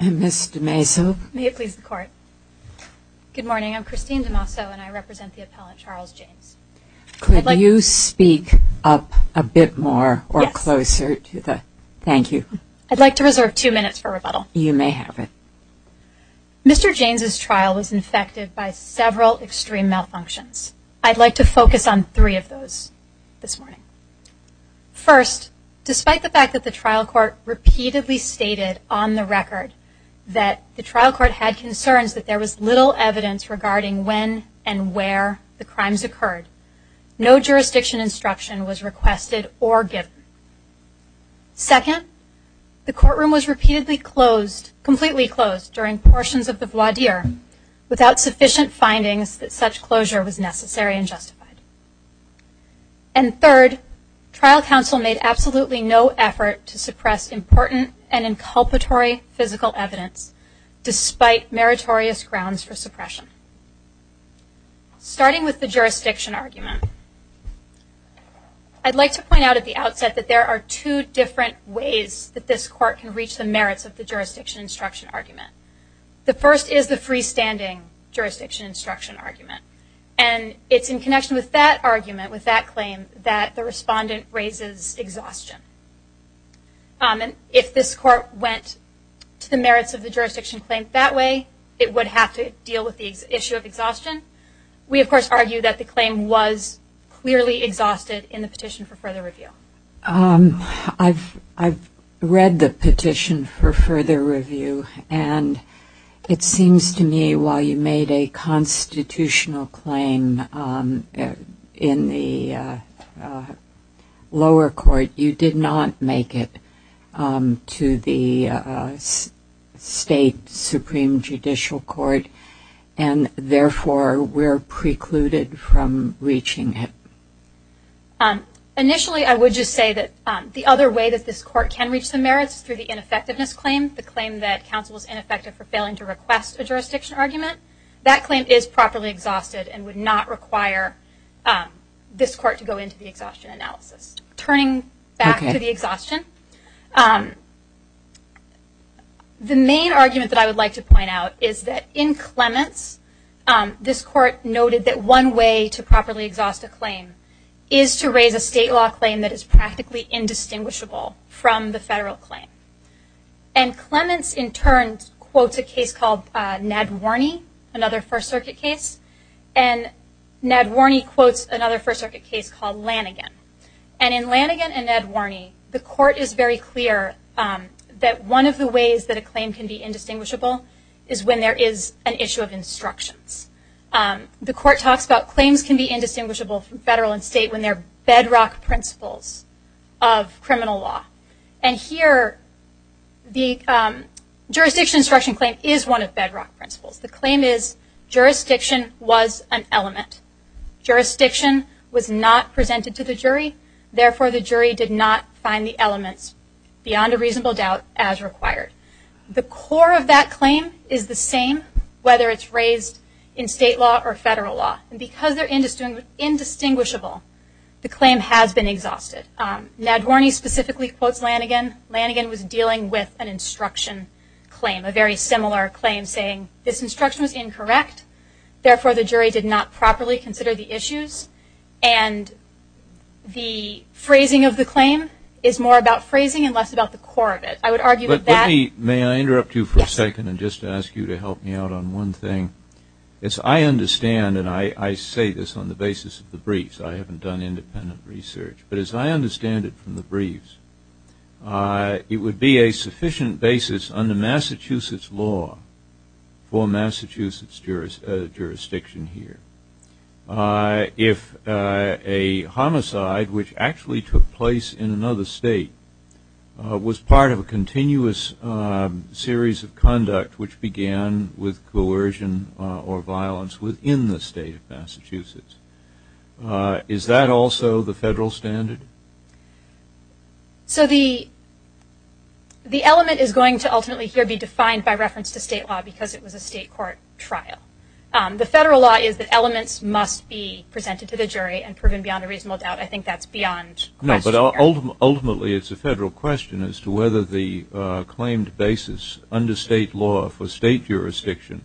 Ms. DeMaso, may it please the Court. Good morning, I'm Christine DeMaso and I represent the appellant, Charles James. Could you speak up a bit more or closer? Yes. Thank you. I'd like to reserve two minutes for rebuttal. You may have it. Mr. James's trial was infected by several extreme malfunctions. I'd like to focus on three of those this morning. First, despite the fact that the trial court repeatedly stated on the record that the trial court had concerns that there was little evidence regarding when and where the crimes occurred, no jurisdiction instruction was requested or given. Second, the courtroom was repeatedly closed, completely closed, during portions of the voir dire without sufficient findings that such closure was necessary and justified. And third, trial counsel made absolutely no effort to suppress important and inculpatory physical evidence despite meritorious grounds for suppression. Starting with the jurisdiction argument, I'd like to point out at the outset that there are two different ways that this court can reach the merits of the jurisdiction instruction argument. The first is the freestanding jurisdiction instruction argument. And it's in connection with that argument, with that claim, that the respondent raises exhaustion. And if this court went to the merits of the jurisdiction claim that way, it would have to deal with the issue of exhaustion. We, of course, argue that the claim was clearly exhausted in the petition for further review. I've read the petition for further review, and it seems to me while you made a constitutional claim in the lower court, you did not make it to the state Supreme Judicial Court, and therefore were precluded from reaching it. Initially, I would just say that the other way that this court can reach the merits through the ineffectiveness claim, the claim that counsel is ineffective for failing to request a jurisdiction argument, that claim is properly exhausted and would not require this court to go into the exhaustion analysis. Turning back to the is that in Clements, this court noted that one way to properly exhaust a claim is to raise a state law claim that is practically indistinguishable from the federal claim. And Clements, in turn, quotes a case called Ned Warney, another First Circuit case. And Ned Warney quotes another First Circuit case called Lanigan. And in Lanigan and Ned Warney, the court is very clear that one of the can be indistinguishable is when there is an issue of instructions. The court talks about claims can be indistinguishable from federal and state when they're bedrock principles of criminal law. And here, the jurisdiction instruction claim is one of bedrock principles. The claim is jurisdiction was an element. Jurisdiction was not presented to the jury, therefore the jury did not find the required. The core of that claim is the same, whether it's raised in state law or federal law. And because they're indistinguishable, the claim has been exhausted. Ned Warney specifically quotes Lanigan. Lanigan was dealing with an instruction claim, a very similar claim, saying this instruction was incorrect, therefore the jury did not properly consider the issues. And the phrasing of the claim is more about phrasing and less about the core of it. I would argue that that- Let me, may I interrupt you for a second and just ask you to help me out on one thing. As I understand, and I say this on the basis of the briefs, I haven't done independent research, but as I understand it from the briefs, it would be a sufficient basis under Massachusetts law for another state was part of a continuous series of conduct which began with coercion or violence within the state of Massachusetts. Is that also the federal standard? So the element is going to ultimately here be defined by reference to state law because it was a state court trial. The federal law is that elements must be presented to the jury and proven beyond a reasonable doubt. I think that's beyond- No, but ultimately it's a federal question as to whether the claimed basis under state law for state jurisdiction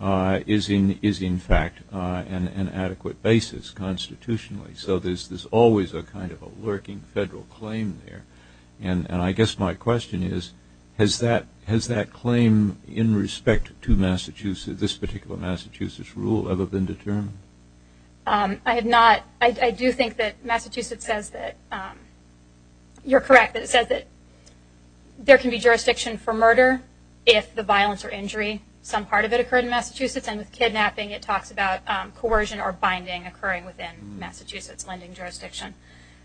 is in fact an adequate basis constitutionally. So there's always a kind of a lurking federal claim there. And I guess my question is, has that claim in respect to Massachusetts, this particular Massachusetts rule, ever been determined? I have not. I do think that Massachusetts says that, you're correct, that it says that there can be jurisdiction for murder if the violence or injury, some part of it occurred in Massachusetts, and with kidnapping it talks about coercion or binding occurring within Massachusetts lending jurisdiction.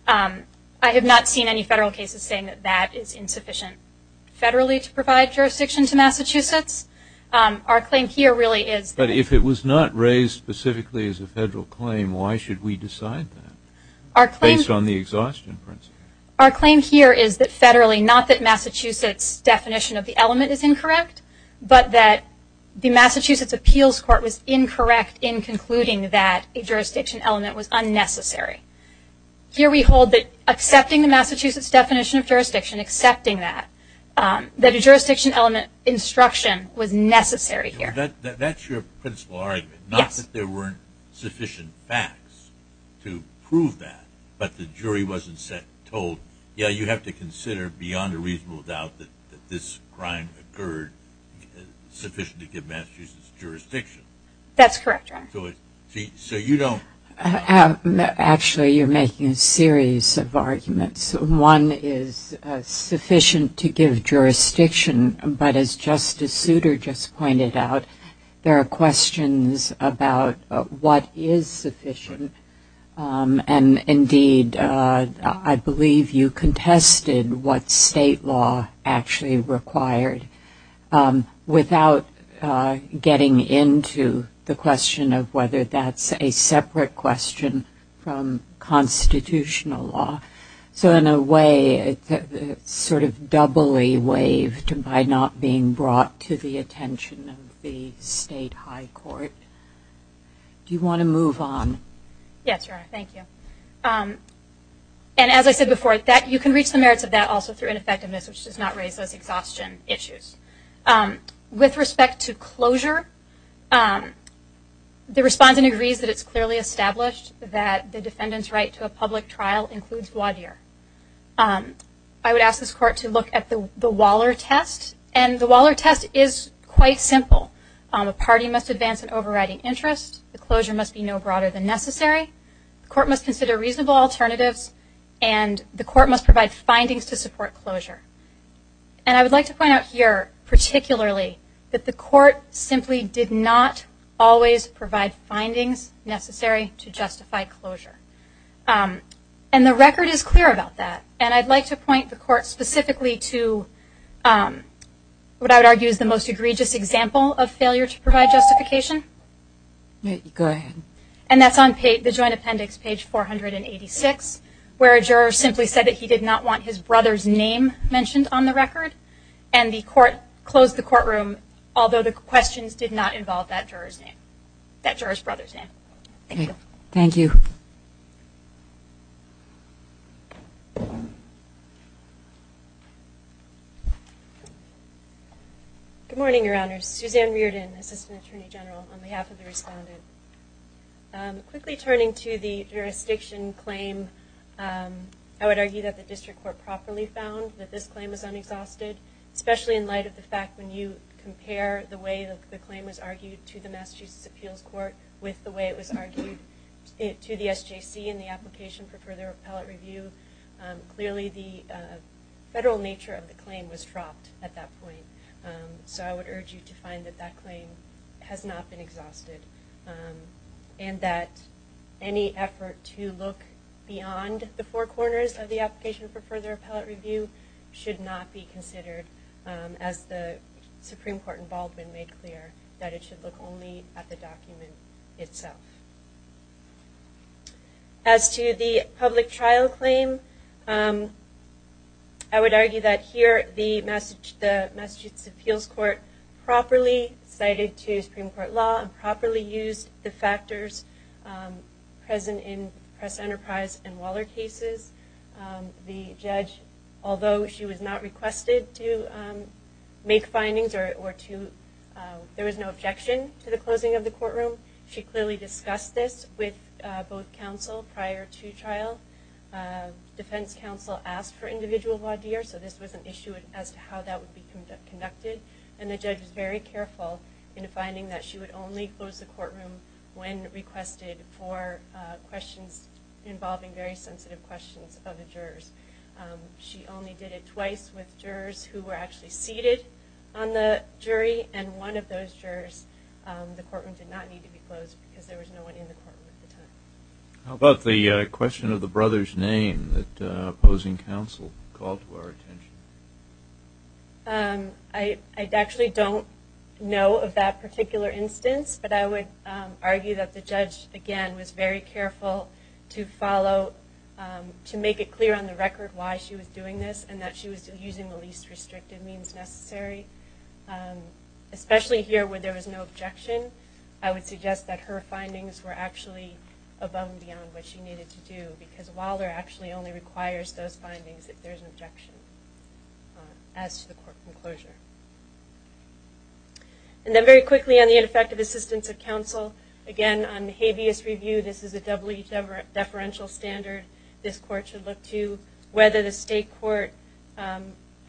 I have not seen any federal cases saying that that is insufficient federally to provide jurisdiction to Massachusetts. Our claim here really is- But if it was not raised specifically as a federal claim, why should we decide that based on the exhaustion principle? Our claim here is that federally, not that Massachusetts definition of the element is incorrect, but that the Massachusetts appeals court was incorrect in concluding that a jurisdiction element was unnecessary. Here we hold that accepting the Massachusetts definition of jurisdiction, accepting that, that a jurisdiction element instruction was necessary here. That's your principle argument, not that there weren't sufficient facts to prove that, but the jury wasn't said, told, yeah, you have to consider beyond a reasonable doubt that this crime occurred sufficient to give Massachusetts jurisdiction. That's correct. So you don't- Actually, you're making a series of arguments. One is sufficient to give jurisdiction, but as Justice Souter just pointed out, there are questions about what is sufficient, and indeed, I believe you contested what state law actually required without getting into the question of whether that's a separate question from constitutional law. So in a way, it's sort of doubly waived by not being brought to the attention of the state high court. Do you want to move on? Yes, Your Honor. Thank you. And as I said before, you can reach the merits of that also through ineffectiveness, which does not raise those exhaustion issues. With respect to closure, the respondent agrees that it's clearly established that the defendant's right to a public trial includes voir dire. I would ask this court to look at the Waller test, and the Waller test is quite simple. A party must advance an overriding interest, the closure must be no broader than necessary, the court must consider reasonable alternatives, and the court must provide findings to support closure. And I would like to point out here particularly that the court simply did not always provide findings necessary to justify closure. And the record is clear about that, and I'd like to point the court specifically to what I would argue is the most egregious example of failure to provide justification. Go ahead. And that's on the joint appendix page 486, where a juror simply said that he did not want his brother's name mentioned on the record, and the court closed the courtroom, although the questions did not involve that juror's name, that juror's brother's name. Thank you. Good morning, Your Honors. Suzanne Reardon, Assistant Attorney General, on behalf of the respondent. Quickly turning to the jurisdiction claim, I would argue that the district court properly found that this claim is unexhausted, especially in light of the fact when you compare the way the claim was argued to the Massachusetts Appeals Court with the way it was argued to the SJC in the application for further appellate review, clearly the federal nature of the claim was dropped at that point. So I would urge you to find that that claim has not been exhausted, and that any effort to look beyond the four corners of the application for further appellate review should not be considered, as the Supreme Court in Baldwin made clear, that it should look only at the document itself. As to the public appeals court, properly cited to Supreme Court law and properly used the factors present in Press-Enterprise and Waller cases, the judge, although she was not requested to make findings or to, there was no objection to the closing of the courtroom, she clearly discussed this with both counsel prior to trial. Defense counsel asked for individual voir dire, so this was an would be conducted, and the judge was very careful in finding that she would only close the courtroom when requested for questions involving very sensitive questions of the jurors. She only did it twice with jurors who were actually seated on the jury, and one of those jurors, the courtroom did not need to be closed because there was no one in the courtroom at the time. How about the I actually don't know of that particular instance, but I would argue that the judge, again, was very careful to follow, to make it clear on the record why she was doing this, and that she was using the least restrictive means necessary. Especially here where there was no objection, I would suggest that her findings were actually above and beyond what she needed to do, because Waller actually only requires those findings if there's an objection as to the courtroom closure. And then very quickly on the ineffective assistance of counsel, again, on habeas review, this is a W deferential standard this court should look to, whether the state court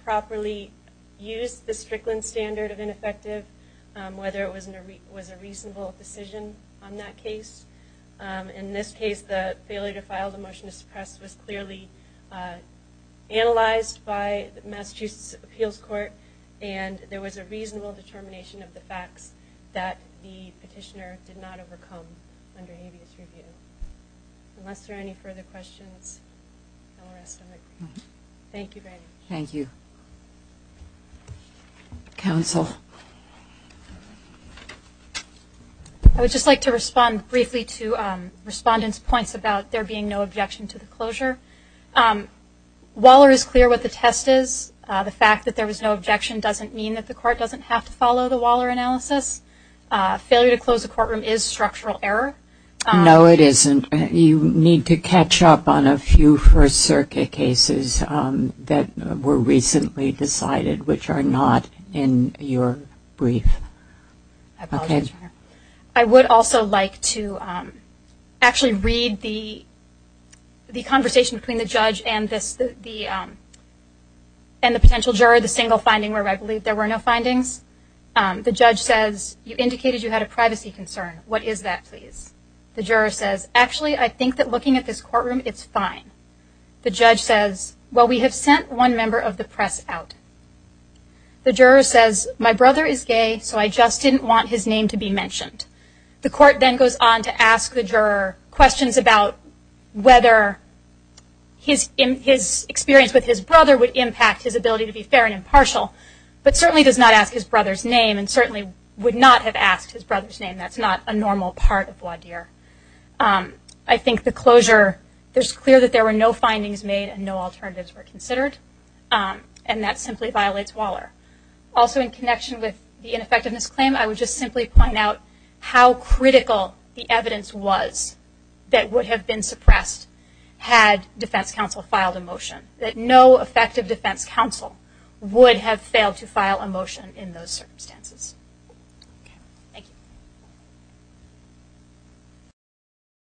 properly used the Strickland standard of ineffective, whether it was a reasonable decision on that case. In this case, the failure to file the motion to suppress was clearly analyzed by the Massachusetts Appeals Court, and there was a reasonable determination of the facts that the petitioner did not overcome under habeas review. Unless there are any further questions, I will rest. Thank you very much. Thank you. Counsel. I would just like to respond briefly to respondents' points about there being no objection to the closure. Waller is clear what the test is. The fact that there was no objection doesn't mean that the court doesn't have to follow the Waller analysis. Failure to close a courtroom is structural error. No, it isn't. You need to catch up on a few first circuit cases that were recently decided, which are not in your brief. I would also like to actually read the conversation between the judge and the potential juror, the single finding where I believe there were no findings. The judge says, you indicated you had a privacy concern. What is that, please? The juror says, actually, I think that looking at this courtroom, it's fine. The judge says, well, we have sent one member of the press out. The juror says, my brother is gay, so I just didn't want his name to be mentioned. The court then goes on to ask the juror questions about whether his experience with his brother would impact his ability to be fair and impartial, but certainly does not ask his brother's name and certainly would not have asked his brother's name. That's not a normal part of voir dire. I think the closure, it's clear that there were no findings made and no alternatives were considered, and that simply violates Waller. Also in connection with the ineffectiveness claim, I would just simply point out how critical the evidence was that would have been suppressed had defense counsel filed a motion, that no effective defense counsel would have failed to file a motion in those circumstances. Thank you. Thank you.